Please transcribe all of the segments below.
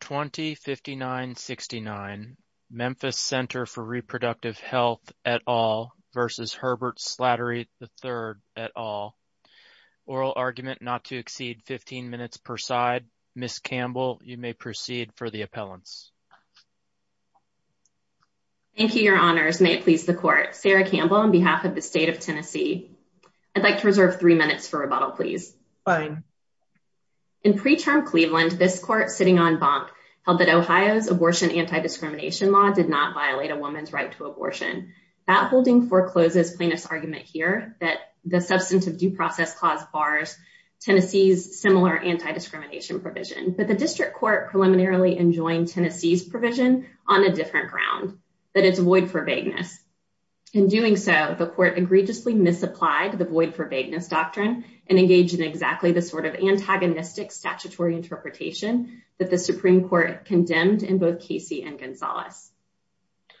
20-59-69 Memphis Ctr for Repro Health v. Herbert Slatery III Oral argument not to exceed 15 minutes per side. Ms. Campbell, you may proceed for the appellants. Thank you, Your Honors. May it please the Court. Sarah Campbell on behalf of the State of Tennessee. I'd like to reserve three minutes for rebuttal, please. Fine. In preterm Cleveland, this Court, sitting on Bonk, held that Ohio's abortion anti-discrimination law did not violate a woman's right to abortion. That holding forecloses plaintiff's argument here that the substantive due process clause bars Tennessee's similar anti-discrimination provision. But the District Court preliminarily enjoined Tennessee's provision on a different ground, that it's void for vagueness. In doing so, the Court egregiously misapplied the void for vagueness doctrine and engaged in exactly the sort of antagonistic statutory interpretation that the Supreme Court condemned in both Casey and Gonzales.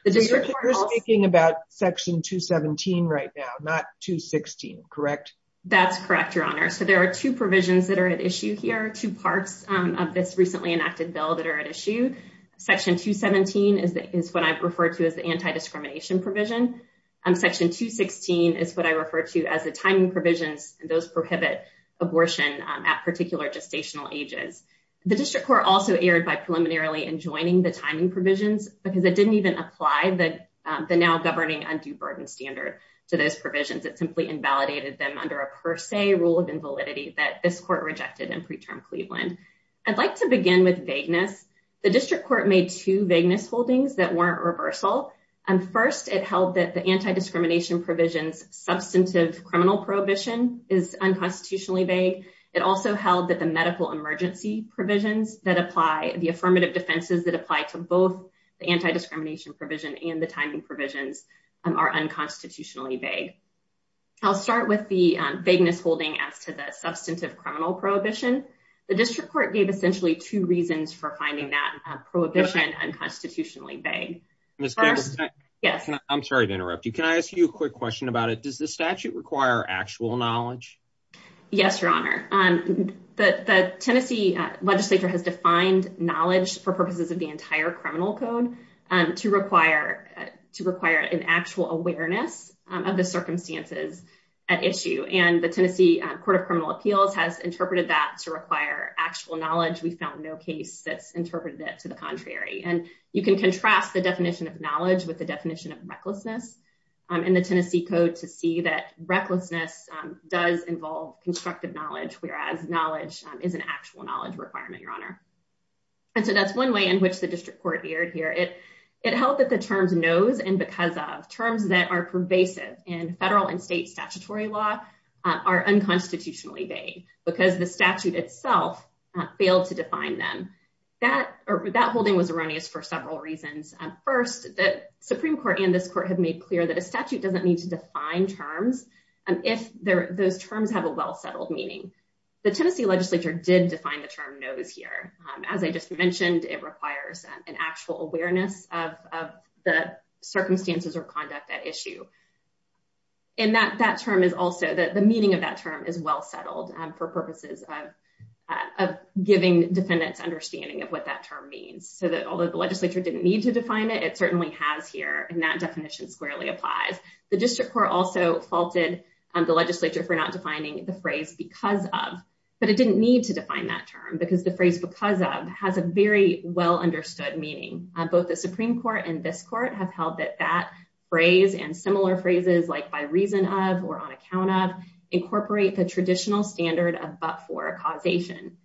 You're speaking about Section 217 right now, not 216, correct? That's correct, Your Honor. So there are two provisions that are at issue here, two parts of this recently enacted bill that are at issue. Section 217 is what I refer to as the anti-discrimination provision. Section 216 is what I refer to as the timing provisions. Those prohibit abortion at particular gestational ages. The District Court also erred by preliminarily enjoining the timing provisions because it didn't even apply the now governing undue burden standard to those provisions. It simply invalidated them under a per se rule of invalidity that this Court rejected in preterm Cleveland. I'd like to begin with vagueness. The District Court made two vagueness holdings that weren't reversal. First, it held that the anti-discrimination provisions substantive criminal prohibition is unconstitutionally vague. It also held that the medical emergency provisions that apply, the affirmative defenses that apply to both the anti-discrimination provision and the timing provisions are unconstitutionally vague. I'll start with the vagueness holding as to the substantive criminal prohibition. The District Court gave essentially two reasons for finding that prohibition unconstitutionally vague. I'm sorry to interrupt you. Can I ask you a quick question about it? Does the statute require actual knowledge? Yes, Your Honor. The Tennessee legislature has defined knowledge for purposes of the entire criminal code to require an actual awareness of the circumstances at issue. And the Tennessee Court of Criminal Appeals has interpreted that to require actual knowledge. We found no case that's interpreted it to the contrary. And you can contrast the definition of knowledge with the definition of recklessness in the Tennessee code to see that recklessness does involve constructive knowledge, whereas knowledge is an actual knowledge requirement, Your Honor. And so that's one way in which the District Court veered here. It held that the terms knows and because of terms that are pervasive in federal and state statutory law are unconstitutionally vague because the statute itself failed to define them. That holding was erroneous for several reasons. First, the Supreme Court and this court have made clear that a statute doesn't need to define terms if those terms have a well-settled meaning. The Tennessee legislature did define the term knows here. As I just mentioned, it requires an actual awareness of the circumstances or conduct at issue. And the meaning of that term is well-settled for purposes of giving defendants understanding of what that term means. So although the legislature didn't need to define it, it certainly has here, and that definition squarely applies. The District Court also faulted the legislature for not defining the phrase because of, but it didn't need to define that term because the phrase because of has a very well-understood meaning. Both the Supreme Court and this court have held that that phrase and similar phrases like by reason of or on account of incorporate the traditional standard of but-for causation.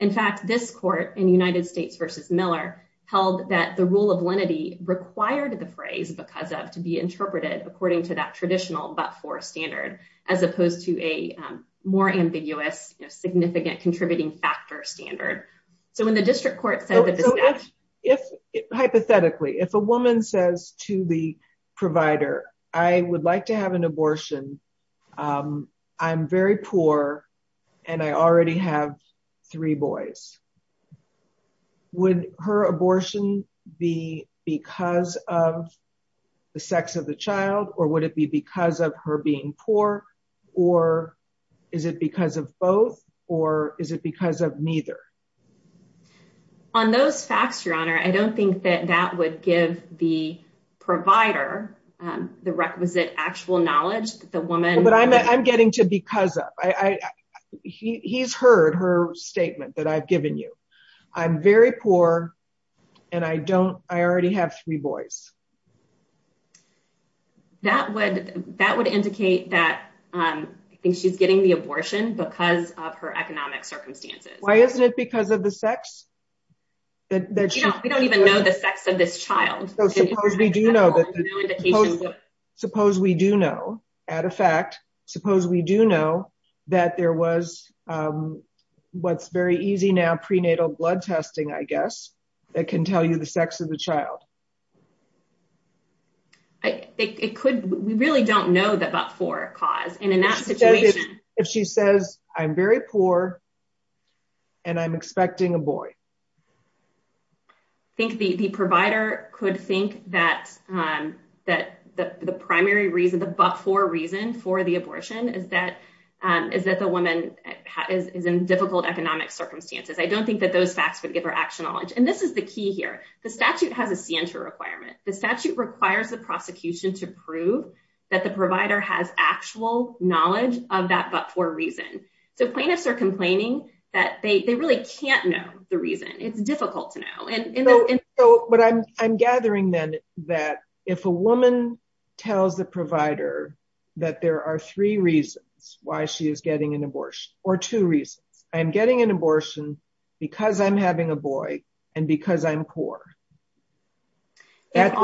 In fact, this court in United States v. Miller held that the rule of lenity required the phrase because of to be interpreted according to that traditional but-for standard, as opposed to a more ambiguous, significant contributing factor standard. So when the District Court said that. If hypothetically, if a woman says to the provider, I would like to have an abortion. I'm very poor, and I already have three boys. Would her abortion be because of the sex of the child or would it be because of her being poor, or is it because of both, or is it because of neither. On those facts, Your Honor, I don't think that that would give the provider the requisite actual knowledge that the woman. But I'm getting to because of, he's heard her statement that I've given you. I'm very poor, and I don't, I already have three boys. That would, that would indicate that she's getting the abortion because of her economic circumstances. Why isn't it because of the sex? We don't even know the sex of this child. Suppose we do know, at a fact, suppose we do know that there was what's very easy now prenatal blood testing, I guess, that can tell you the sex of the child. It could, we really don't know the but-for cause, and in that situation. If she says, I'm very poor, and I'm expecting a boy. I think the provider could think that the primary reason, the but-for reason for the abortion is that the woman is in difficult economic circumstances. I don't think that those facts would give her actual knowledge. And this is the key here. The statute has a scienter requirement. The statute requires the prosecution to prove that the provider has actual knowledge of that but-for reason. So plaintiffs are complaining that they really can't know the reason. It's difficult to know. But I'm gathering then that if a woman tells the provider that there are three reasons why she is getting an abortion, or two reasons. I'm getting an abortion because I'm having a boy, and because I'm poor. That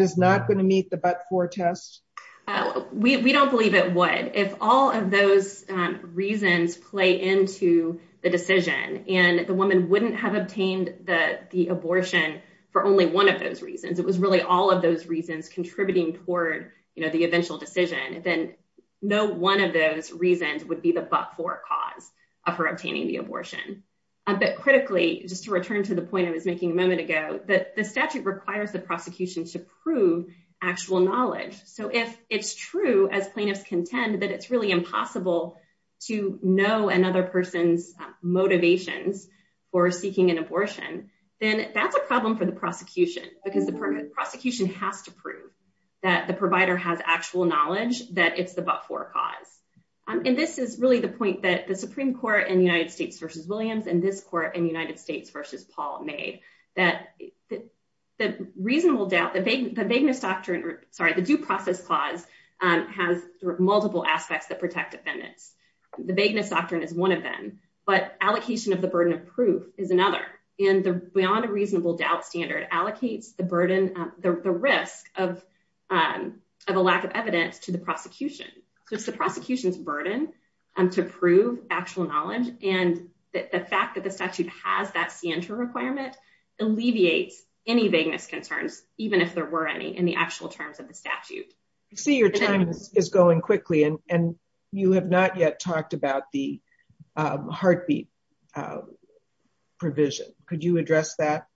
is not going to meet the but-for test? We don't believe it would. If all of those reasons play into the decision, and the woman wouldn't have obtained the abortion for only one of those reasons. It was really all of those reasons contributing toward the eventual decision. Then no one of those reasons would be the but-for cause of her obtaining the abortion. But critically, just to return to the point I was making a moment ago, the statute requires the prosecution to prove actual knowledge. So if it's true, as plaintiffs contend, that it's really impossible to know another person's motivations for seeking an abortion. Then that's a problem for the prosecution. Because the prosecution has to prove that the provider has actual knowledge that it's the but-for cause. This is really the point that the Supreme Court in United States v. Williams and this court in United States v. Paul made. The reasonable doubt, the vagueness doctrine, sorry, the due process clause has multiple aspects that protect defendants. The vagueness doctrine is one of them. But allocation of the burden of proof is another. And the beyond a reasonable doubt standard allocates the risk of a lack of evidence to the prosecution. So it's the prosecution's burden to prove actual knowledge. And the fact that the statute has that scienter requirement alleviates any vagueness concerns, even if there were any in the actual terms of the statute. I see your time is going quickly and you have not yet talked about the heartbeat provision. Could you address that?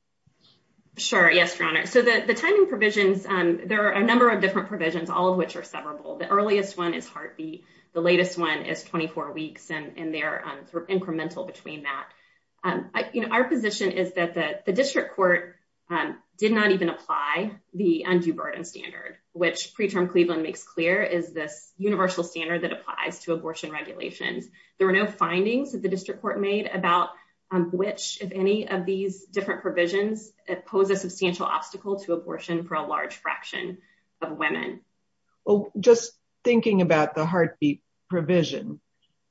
Sure. Yes, Your Honor. So the timing provisions, there are a number of different provisions, all of which are severable. The earliest one is heartbeat. The latest one is 24 weeks. And they're incremental between that. Our position is that the district court did not even apply the undue burden standard, which preterm Cleveland makes clear is this universal standard that applies to abortion regulations. There are no findings that the district court made about which, if any, of these different provisions pose a substantial obstacle to abortion for a large fraction of women. Well, just thinking about the heartbeat provision,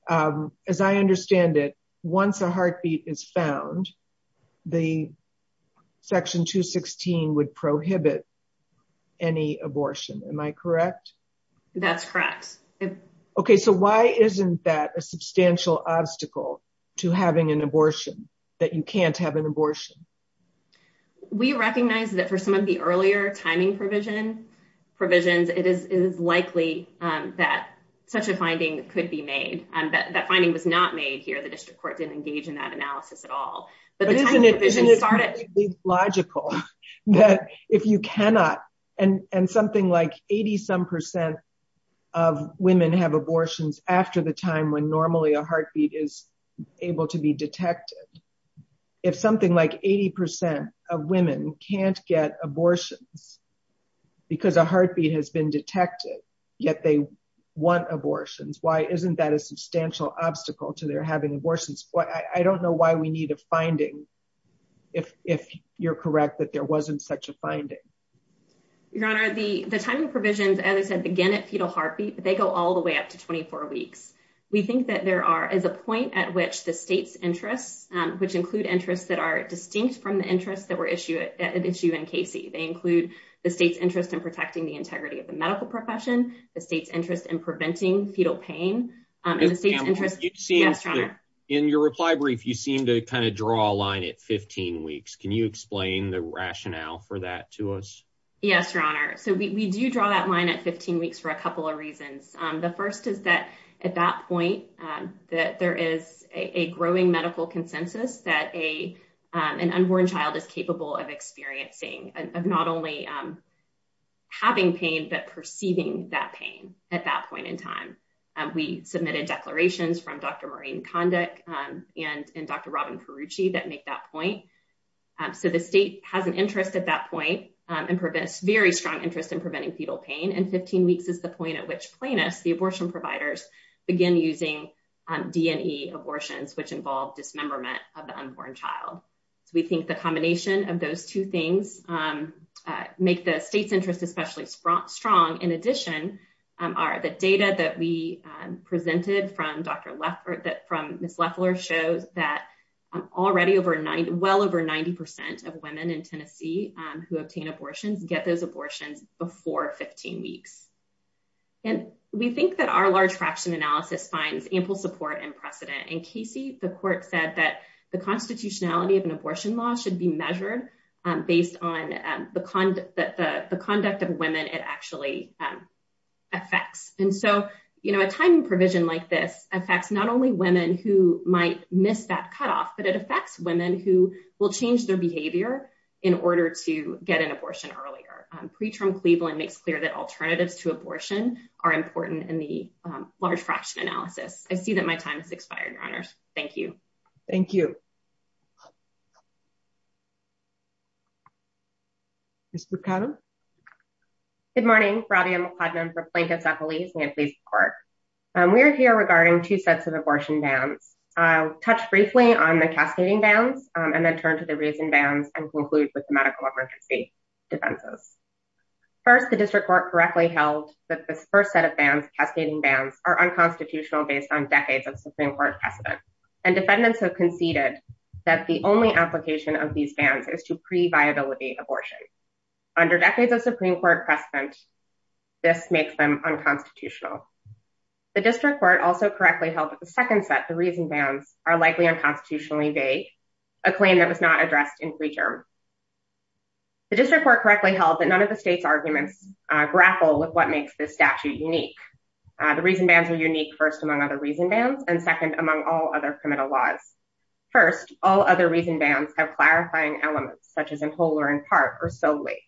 as I understand it, once a heartbeat is found, the section 216 would prohibit any abortion. Am I correct? That's correct. Okay, so why isn't that a substantial obstacle to having an abortion that you can't have an abortion? We recognize that for some of the earlier timing provisions, it is likely that such a finding could be made. That finding was not made here. The district court didn't engage in that analysis at all. But the timing provision started. But isn't it completely logical that if you cannot, and something like 80-some percent of women have abortions after the time when normally a heartbeat is able to be detected. If something like 80 percent of women can't get abortions because a heartbeat has been detected, yet they want abortions. Why isn't that a substantial obstacle to their having abortions? I don't know why we need a finding if you're correct that there wasn't such a finding. Your Honor, the timing provisions, as I said, begin at fetal heartbeat, but they go all the way up to 24 weeks. We think that there is a point at which the state's interests, which include interests that are distinct from the interests that were at issue in Casey. They include the state's interest in protecting the integrity of the medical profession, the state's interest in preventing fetal pain. In your reply brief, you seem to kind of draw a line at 15 weeks. Can you explain the rationale for that to us? Yes, Your Honor. So we do draw that line at 15 weeks for a couple of reasons. The first is that at that point, there is a growing medical consensus that an unborn child is capable of experiencing, of not only having pain, but perceiving that pain at that point in time. We submitted declarations from Dr. Maureen Kondek and Dr. Robin Perucci that make that point. So the state has an interest at that point and a very strong interest in preventing fetal pain. And 15 weeks is the point at which plaintiffs, the abortion providers, begin using D&E abortions, which involve dismemberment of the unborn child. So we think the combination of those two things make the state's interest especially strong. In addition, the data that we presented from Ms. Leffler shows that already well over 90% of women in Tennessee who obtain abortions get those abortions before 15 weeks. And we think that our large fraction analysis finds ample support and precedent. In Casey, the court said that the constitutionality of an abortion law should be measured based on the conduct of women it actually affects. And so, you know, a timing provision like this affects not only women who might miss that cutoff, but it affects women who will change their behavior in order to get an abortion earlier. Ms. Leffler, Pre-Term Cleveland makes clear that alternatives to abortion are important in the large fraction analysis. I see that my time has expired, Your Honors. Thank you. Thank you. Ms. Mercado. Good morning, Robby McCladden for Plaintiffs at Police and the Police Department. We are here regarding two sets of abortion bans. I'll touch briefly on the cascading bans and then turn to the reason bans and conclude with the medical emergency defenses. First, the district court correctly held that this first set of bans, cascading bans, are unconstitutional based on decades of Supreme Court precedent. And defendants have conceded that the only application of these bans is to pre-viability abortion. Under decades of Supreme Court precedent, this makes them unconstitutional. The district court also correctly held that the second set, the reason bans, are likely unconstitutionally vague, a claim that was not addressed in pre-term. The district court correctly held that none of the state's arguments grapple with what makes this statute unique. The reason bans are unique, first, among other reason bans, and second, among all other criminal laws. First, all other reason bans have clarifying elements such as in whole or in part or solely.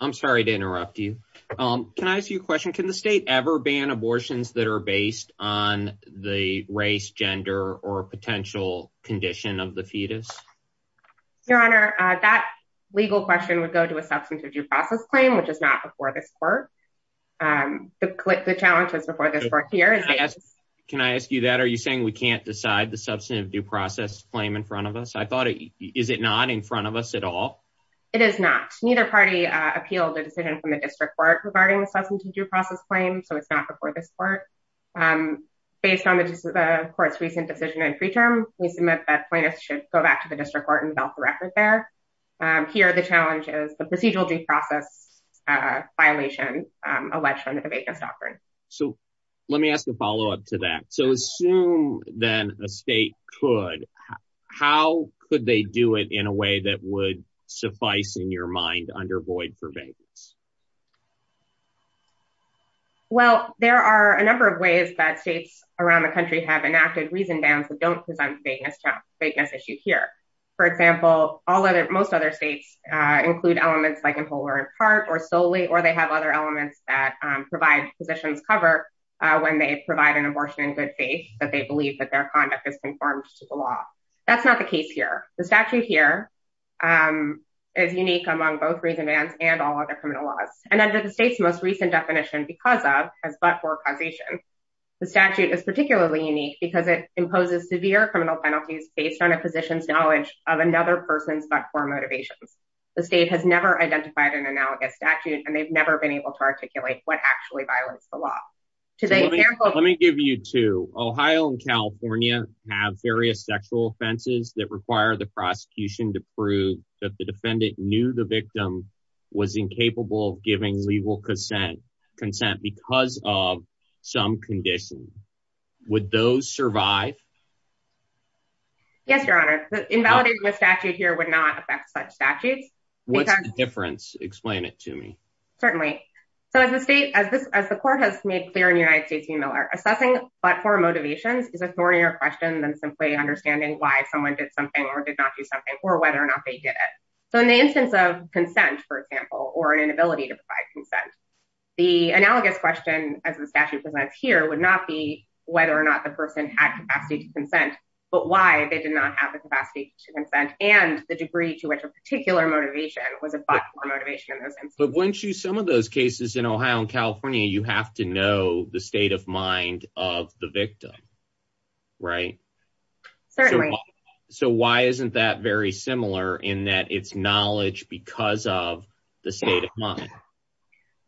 I'm sorry to interrupt you. Can I ask you a question? Can the state ever ban abortions that are based on the race, gender, or potential condition of the fetus? Your Honor, that legal question would go to a substantive due process claim, which is not before this court. The challenge is before this court here. Can I ask you that? Are you saying we can't decide the substantive due process claim in front of us? Is it not in front of us at all? It is not. Neither party appealed the decision from the district court regarding the substantive due process claim, so it's not before this court. Based on the court's recent decision in pre-term, we submit that plaintiffs should go back to the district court and belt the record there. Here, the challenge is the procedural due process violation alleged under the vagueness doctrine. Let me ask a follow-up to that. Assume then a state could, how could they do it in a way that would suffice in your mind under void for vagueness? There are a number of ways that states around the country have enacted reason bans that don't present vagueness issue here. For example, most other states include elements like in whole or in part or solely, or they have other elements that provide positions cover when they provide an abortion in good faith that they believe that their conduct is conformed to the law. That's not the case here. The statute here is unique among both reason bans and all other criminal laws. And under the state's most recent definition, because of, as but for causation, the statute is particularly unique because it imposes severe criminal penalties based on a physician's knowledge of another person's but for motivations. The state has never identified an analogous statute, and they've never been able to articulate what actually violates the law. Let me give you to Ohio and California have various sexual offenses that require the prosecution to prove that the defendant knew the victim was incapable of giving legal consent consent because of some condition. Would those survive? Yes, Your Honor. Invalidating the statute here would not affect such statutes. What's the difference? Explain it to me. Certainly. So as the state as this as the court has made clear in the United States, you know, are assessing but for motivations is a thornier question than simply understanding why someone did something or did not do something or whether or not they did it. So in the instance of consent, for example, or an inability to provide consent. The analogous question as the statute presents here would not be whether or not the person had capacity to consent, but why they did not have the capacity to consent and the degree to which a particular motivation was a motivation. But once you some of those cases in Ohio and California, you have to know the state of mind of the victim. Right, certainly. So why isn't that very similar in that it's knowledge because of the state of mind.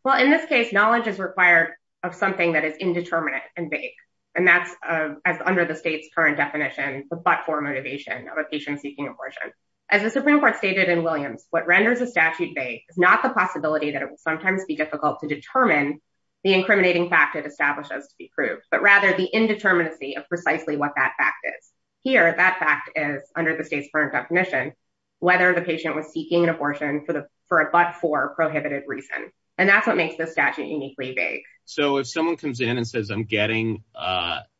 Well, in this case, knowledge is required of something that is indeterminate and vague, and that's as under the state's current definition, but for motivation of a patient seeking abortion. As the Supreme Court stated in Williams, what renders a statute vague is not the possibility that it will sometimes be difficult to determine the incriminating fact it establishes to be proved, but rather the indeterminacy of precisely what that fact is. Here, that fact is under the state's current definition, whether the patient was seeking an abortion for a but for prohibited reason. And that's what makes this statute uniquely vague. So if someone comes in and says, I'm getting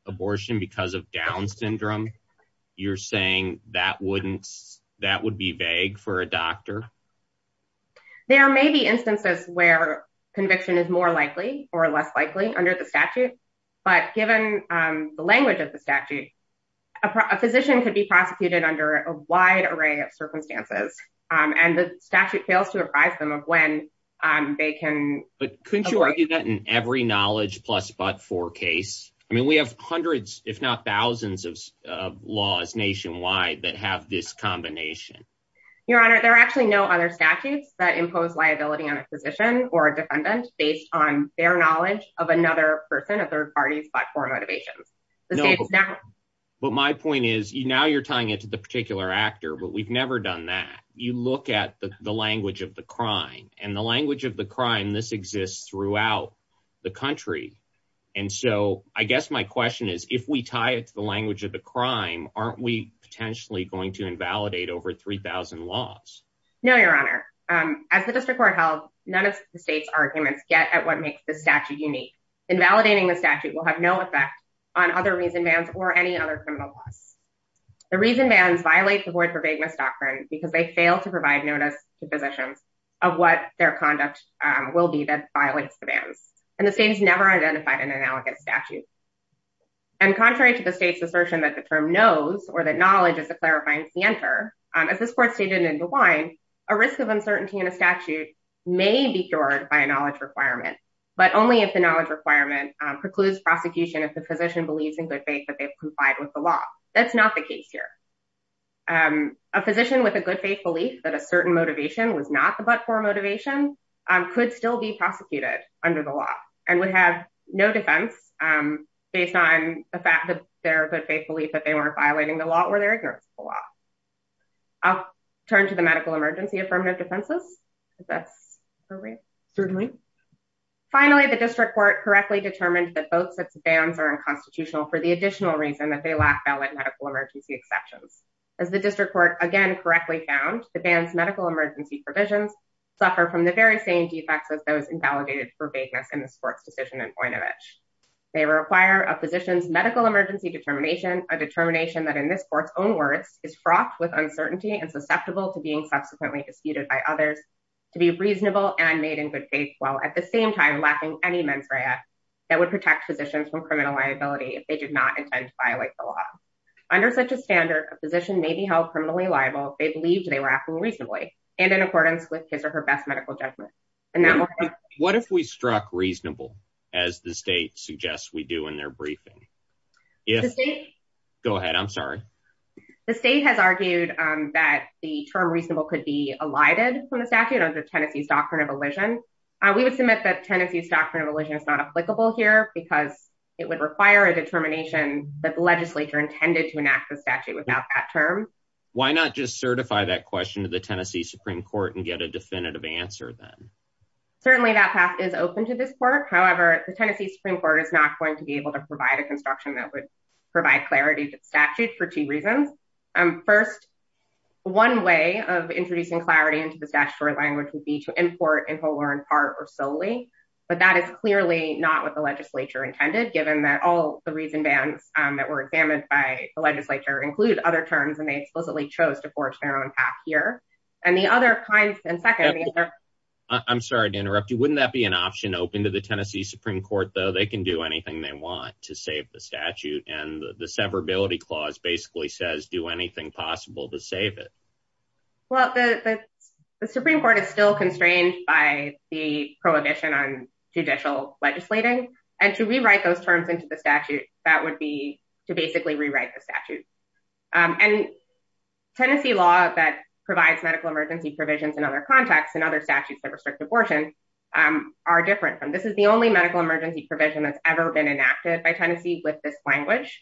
abortion because of down syndrome, you're saying that wouldn't that would be vague for a doctor. There may be instances where conviction is more likely or less likely under the statute, but given the language of the statute, a physician could be prosecuted under a wide array of circumstances and the statute fails to advise them of when they can. But couldn't you argue that in every knowledge plus but for case. I mean, we have hundreds, if not thousands of laws nationwide that have this combination. Your Honor, there are actually no other statutes that impose liability on a physician or a defendant based on their knowledge of another person of third parties but for motivations. But my point is you now you're tying it to the particular actor but we've never done that you look at the language of the crime and the language of the crime this exists throughout the country. And so, I guess my question is, if we tie it to the language of the crime, aren't we potentially going to invalidate over 3000 laws. No, Your Honor. As the district court held, none of the state's arguments get at what makes the statute unique invalidating the statute will have no effect on other reason vans or any other criminal laws. The reason vans violate the word for vagueness doctrine, because they fail to provide notice to positions of what their conduct will be that violates the vans and the state has never identified an analogous statute. And contrary to the state's assertion that the term knows or that knowledge is a clarifying center as this court stated in the wine, a risk of uncertainty in a statute may be cured by a knowledge requirement. But only if the knowledge requirement precludes prosecution if the physician believes in good faith that they've complied with the law. That's not the case here. I'm a physician with a good faith belief that a certain motivation was not the but for motivation could still be prosecuted under the law and would have no defense. Based on the fact that they're good faith belief that they weren't violating the law where they're ignorant. Turn to the medical emergency affirmative defenses. That's Certainly. Finally, the district court correctly determined that both sets of bands are unconstitutional for the additional reason that they lack valid medical emergency exceptions. As the district court again correctly found the bands medical emergency provisions suffer from the very same defects as those invalidated for vagueness in the sports decision and point of it. They require a physician's medical emergency determination, a determination that in this court's own words is fraught with uncertainty and susceptible to being subsequently disputed by others. To be reasonable and made in good faith. Well, at the same time, laughing any mens rea that would protect physicians from criminal liability. They did not intend to violate the law. Under such a standard position may be held criminally liable. They believed they were acting reasonably and in accordance with his or her best medical judgment. What if we struck reasonable as the state suggests we do in their briefing. Yes. Go ahead. I'm sorry. The state has argued that the term reasonable could be elided from the statute of the Tennessee's doctrine of elision. We would submit that Tennessee's doctrine of elision is not applicable here because it would require a determination that legislature intended to enact the statute without that term. Why not just certify that question to the Tennessee Supreme Court and get a definitive answer then. Certainly that path is open to this court. However, the Tennessee Supreme Court is not going to be able to provide a construction that would provide clarity to statute for two reasons. First, one way of introducing clarity into the statutory language would be to import and hold her in part or solely. But that is clearly not what the legislature intended, given that all the reason bands that were examined by the legislature include other terms and they explicitly chose to forge their own path here. And the other kind. And second, I'm sorry to interrupt you. Wouldn't that be an option open to the Tennessee Supreme Court, though they can do anything they want to save the statute and the severability clause basically says do anything possible to save it. Well, the Supreme Court is still constrained by the prohibition on judicial legislating and to rewrite those terms into the statute that would be to basically rewrite the statute. And Tennessee law that provides medical emergency provisions and other contacts and other statutes that restrict abortion. Are different from this is the only medical emergency provision that's ever been enacted by Tennessee with this language.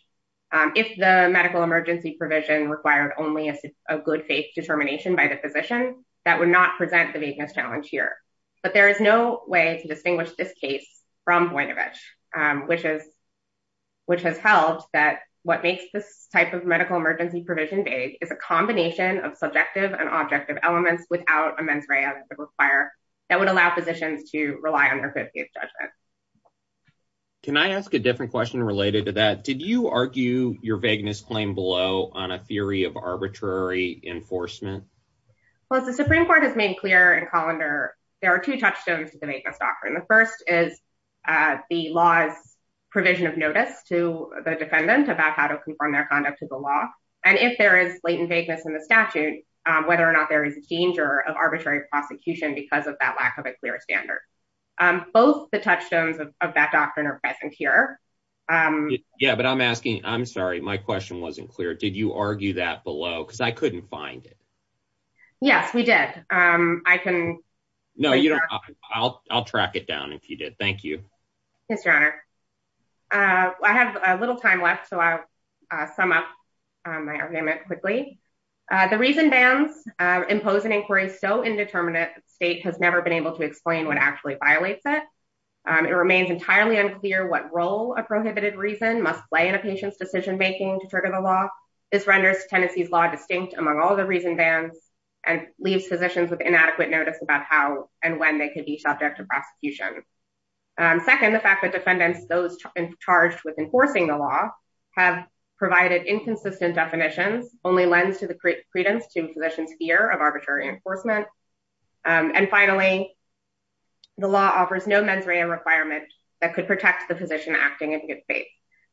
If the medical emergency provision required only a good faith determination by the physician that would not present the biggest challenge here. But there is no way to distinguish this case from point of edge, which is. Which has helped that what makes this type of medical emergency provision vague is a combination of subjective and objective elements without a mens rea require that would allow physicians to rely on their 50th judgment. Can I ask a different question related to that? Did you argue your vagueness claim below on a theory of arbitrary enforcement? Well, as the Supreme Court has made clear in Colander, there are two touchstones to the vagueness doctrine. The first is the law's provision of notice to the defendant about how to confirm their conduct to the law. And if there is latent vagueness in the statute, whether or not there is a danger of arbitrary prosecution because of that lack of a clear standard. Both the touchstones of that doctrine are present here. Yeah, but I'm asking. I'm sorry. My question wasn't clear. Did you argue that below? Because I couldn't find it. Yes, we did. I can. No, you don't. I'll track it down if you did. Thank you, Mr. I have a little time left. So I sum up my argument quickly. The reason bands impose an inquiry. So indeterminate state has never been able to explain what actually violates it. It remains entirely unclear what role a prohibited reason must play in a patient's decision making to trigger the law. This renders Tennessee's law distinct among all the reason bands and leaves physicians with inadequate notice about how and when they could be subject to prosecution. Second, the fact that defendants, those charged with enforcing the law, have provided inconsistent definitions only lends to the credence to physicians' fear of arbitrary enforcement. And finally, the law offers no mens rea requirement that could protect the physician acting in good faith.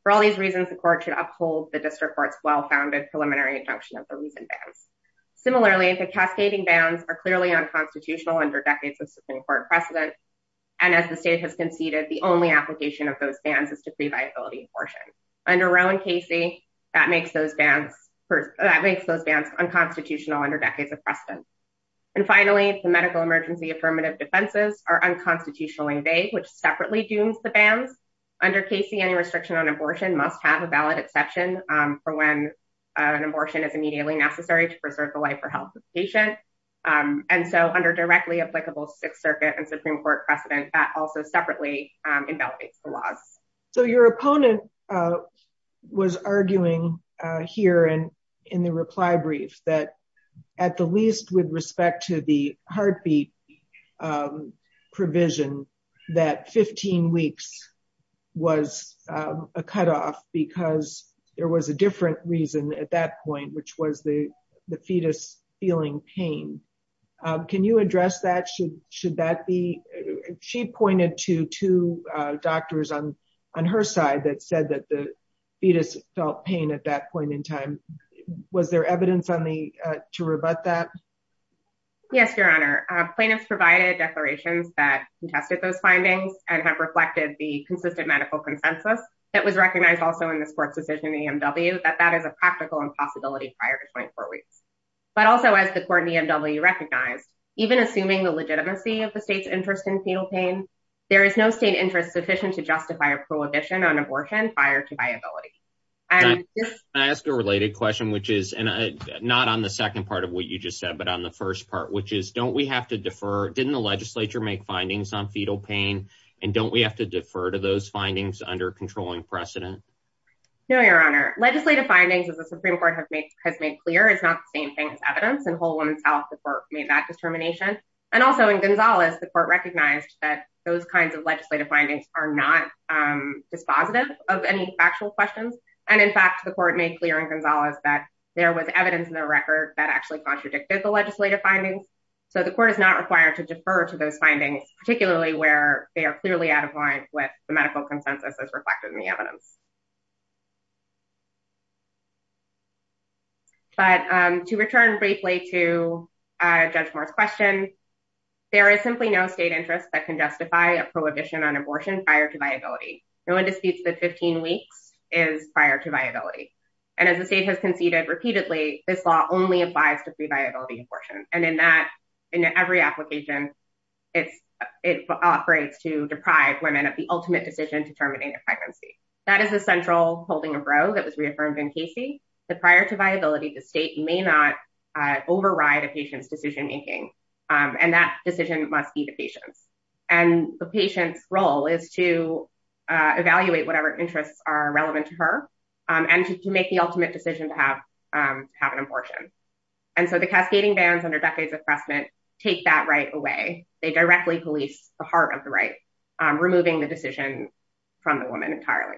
For all these reasons, the court should uphold the district court's well-founded preliminary injunction of the reason bands. Similarly, the cascading bands are clearly unconstitutional under decades of Supreme Court precedent. And as the state has conceded, the only application of those bands is to pre-viability abortion. Under Roe and Casey, that makes those bands unconstitutional under decades of precedent. And finally, the medical emergency affirmative defenses are unconstitutionally vague, which separately dooms the bands. Under Casey, any restriction on abortion must have a valid exception for when an abortion is immediately necessary to preserve the life or health of the patient. And so under directly applicable Sixth Circuit and Supreme Court precedent, that also separately invalidates the laws. So your opponent was arguing here and in the reply brief that at the least with respect to the heartbeat provision that 15 weeks was a cutoff because there was a different reason at that point, which was the fetus feeling pain. Can you address that? She pointed to two doctors on her side that said that the fetus felt pain at that point in time. Was there evidence to rebut that? Yes, Your Honor. Plaintiffs provided declarations that contested those findings and have reflected the consistent medical consensus that was recognized also in the sports decision EMW that that is a practical impossibility prior to 24 weeks. But also, as the court EMW recognized, even assuming the legitimacy of the state's interest in fetal pain, there is no state interest sufficient to justify a prohibition on abortion prior to viability. I asked a related question, which is not on the second part of what you just said, but on the first part, which is don't we have to defer? Didn't the legislature make findings on fetal pain? And don't we have to defer to those findings under controlling precedent? No, Your Honor. Legislative findings, as the Supreme Court has made clear, is not the same thing as evidence, and Whole Woman South, the court made that determination. And also in Gonzalez, the court recognized that those kinds of legislative findings are not dispositive of any factual questions. And in fact, the court made clear in Gonzalez that there was evidence in the record that actually contradicted the legislative findings. So the court is not required to defer to those findings, particularly where they are clearly out of line with the medical consensus as reflected in the evidence. But to return briefly to Judge Moore's question, there is simply no state interest that can justify a prohibition on abortion prior to viability. No one disputes that 15 weeks is prior to viability. And as the state has conceded repeatedly, this law only applies to pre-viability abortion. And in that, in every application, it operates to deprive women of the ultimate decision determining their pregnancy. There was a central holding of Roe that was reaffirmed in Casey that prior to viability, the state may not override a patient's decision making. And that decision must be the patient's. And the patient's role is to evaluate whatever interests are relevant to her and to make the ultimate decision to have an abortion. And so the cascading bans under decades of harassment take that right away. They directly police the heart of the right, removing the decision from the woman entirely.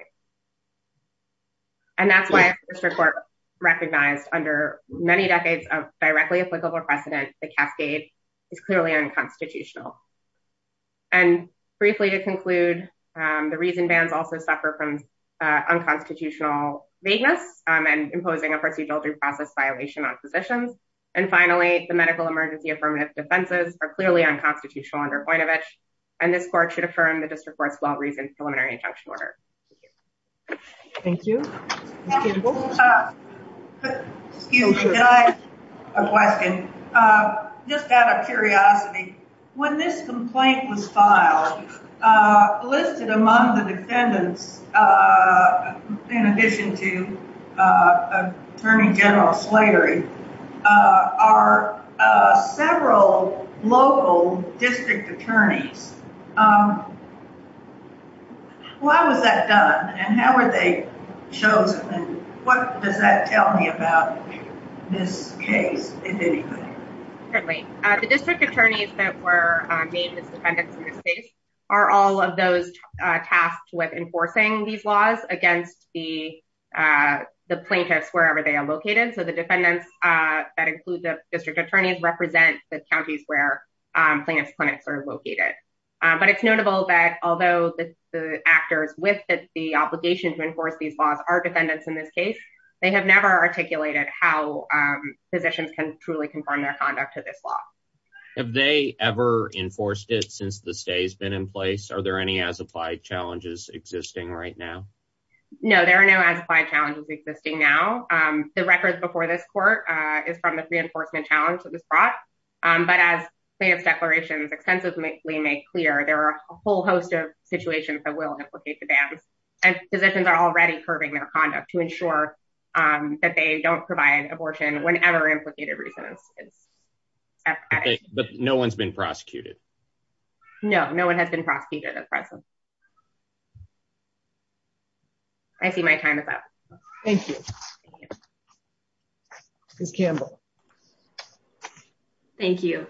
And that's why a district court recognized under many decades of directly applicable precedent, the cascade is clearly unconstitutional. And briefly to conclude, the reason bans also suffer from unconstitutional vagueness and imposing a procedural due process violation on physicians. And finally, the medical emergency affirmative defenses are clearly unconstitutional under Koinovich. And this court should affirm the district court's well-reasoned preliminary injunction order. Thank you. Excuse me, can I ask a question? Just out of curiosity, when this complaint was filed, listed among the defendants, in addition to Attorney General Slatery, are several local district attorneys. Why was that done and how were they chosen? What does that tell me about this case, if anything? Certainly, the district attorneys that were named as defendants in this case are all of those tasked with enforcing these laws against the plaintiffs wherever they are located. So the defendants that include the district attorneys represent the counties where plaintiff's clinics are located. But it's notable that although the actors with the obligation to enforce these laws are defendants in this case, they have never articulated how physicians can truly confirm their conduct to this law. Have they ever enforced it since the stay has been in place? Are there any as-applied challenges existing right now? No, there are no as-applied challenges existing now. The records before this court is from the reinforcement challenge that was brought. But as plaintiff's declarations extensively make clear, there are a whole host of situations that will implicate the bans. Physicians are already curbing their conduct to ensure that they don't provide abortion whenever implicated reasons. But no one's been prosecuted? No, no one has been prosecuted at present. I see my time is up. Thank you. Ms. Campbell. Thank you.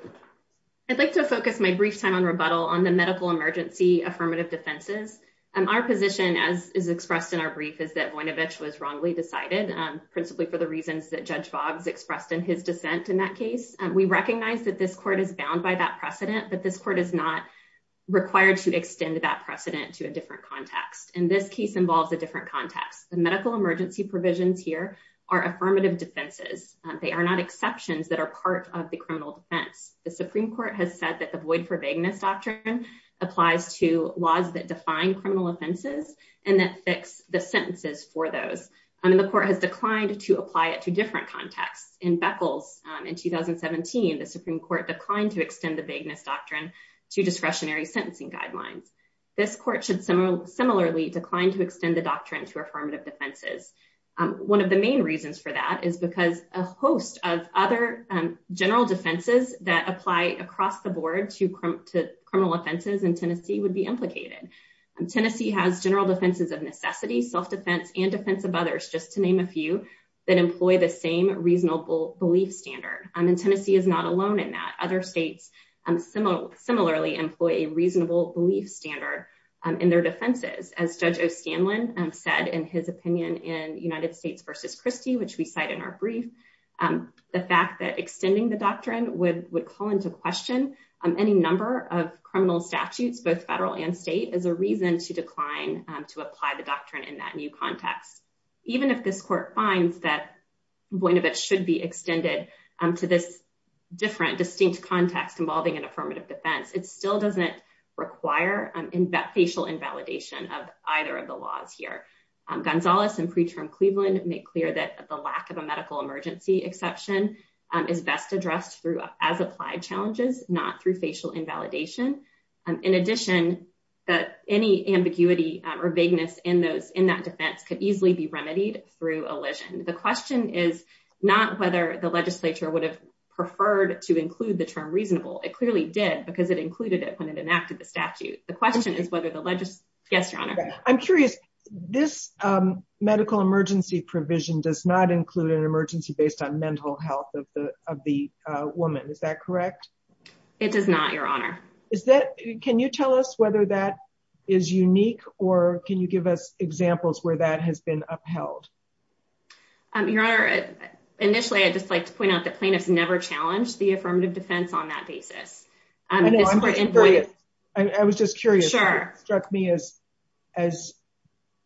I'd like to focus my brief time on rebuttal on the medical emergency affirmative defenses. Our position, as is expressed in our brief, is that Voinovich was wrongly decided, principally for the reasons that Judge Boggs expressed in his dissent in that case. We recognize that this court is bound by that precedent, but this court is not required to extend that precedent to a different context. And this case involves a different context. The medical emergency provisions here are affirmative defenses. They are not exceptions that are part of the criminal defense. The Supreme Court has said that the void for vagueness doctrine applies to laws that define criminal offenses and that fix the sentences for those. And the court has declined to apply it to different contexts. In Beckles in 2017, the Supreme Court declined to extend the vagueness doctrine to discretionary sentencing guidelines. This court should similarly decline to extend the doctrine to affirmative defenses. One of the main reasons for that is because a host of other general defenses that apply across the board to criminal offenses in Tennessee would be implicated. Tennessee has general defenses of necessity, self-defense, and defense of others, just to name a few, that employ the same reasonable belief standard. And Tennessee is not alone in that. Other states similarly employ a reasonable belief standard in their defenses. As Judge O'Stanlin said in his opinion in United States v. Christie, which we cite in our brief, the fact that extending the doctrine would call into question any number of criminal statutes, both federal and state, as a reason to decline to apply the doctrine in that new context. Even if this court finds that Boinovich should be extended to this different, distinct context involving an affirmative defense, it still doesn't require facial invalidation of either of the laws here. Gonzales and Preterm Cleveland make clear that the lack of a medical emergency exception is best addressed through as-applied challenges, not through facial invalidation. In addition, that any ambiguity or vagueness in that defense could easily be remedied through elision. The question is not whether the legislature would have preferred to include the term reasonable. It clearly did because it included it when it enacted the statute. The question is whether the legis- Yes, Your Honor. I'm curious. This medical emergency provision does not include an emergency based on mental health of the woman. Is that correct? It does not, Your Honor. Can you tell us whether that is unique or can you give us examples where that has been upheld? Your Honor, initially I'd just like to point out that plaintiffs never challenged the affirmative defense on that basis. I know. I was just curious. It struck me as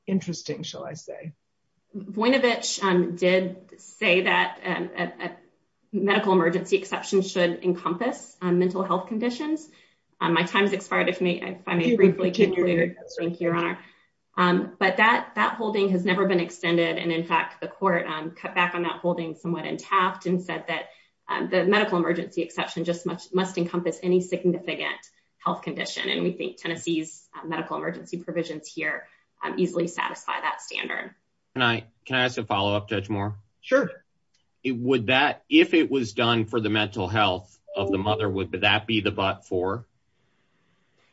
interesting, shall I say. Voinovich did say that a medical emergency exception should encompass mental health conditions. My time has expired, if I may briefly conclude. Thank you, Your Honor. But that holding has never been extended. And in fact, the court cut back on that holding somewhat and tapped and said that the medical emergency exception just must encompass any significant health condition. And we think Tennessee's medical emergency provisions here easily satisfy that standard. Can I ask a follow-up, Judge Moore? Sure. If it was done for the mental health of the mother, would that be the but for?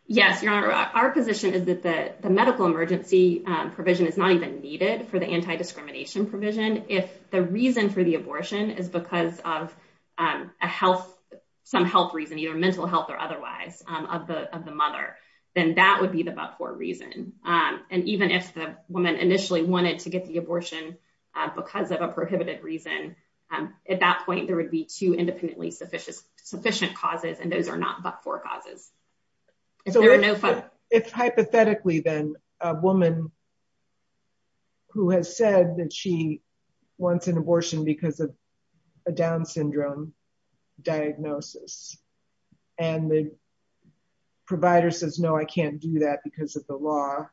Yes, Your Honor. Our position is that the medical emergency provision is not even needed for the anti-discrimination provision. If the reason for the abortion is because of some health reason, either mental health or otherwise, of the mother, then that would be the but for reason. And even if the woman initially wanted to get the abortion because of a prohibited reason, at that point there would be two independently sufficient causes, and those are not but for causes. If hypothetically, then, a woman who has said that she wants an abortion because of a Down syndrome diagnosis, and the provider says, no, I can't do that because of the law,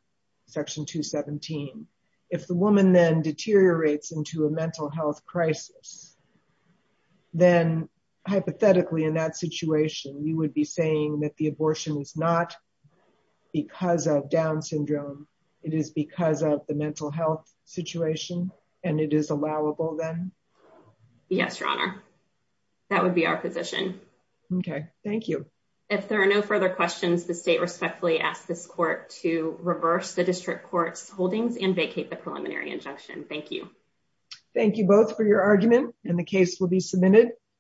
Section 217, if the woman then deteriorates into a mental health crisis, then, hypothetically, in that situation, you would be saying that the abortion is not because of Down syndrome, it is because of the mental health situation, and it is allowable then? Yes, Your Honor. That would be our position. Okay. Thank you. If there are no further questions, the State respectfully asks this Court to reverse the District Court's holdings and vacate the preliminary injunction. Thank you. Thank you both for your argument, and the case will be submitted.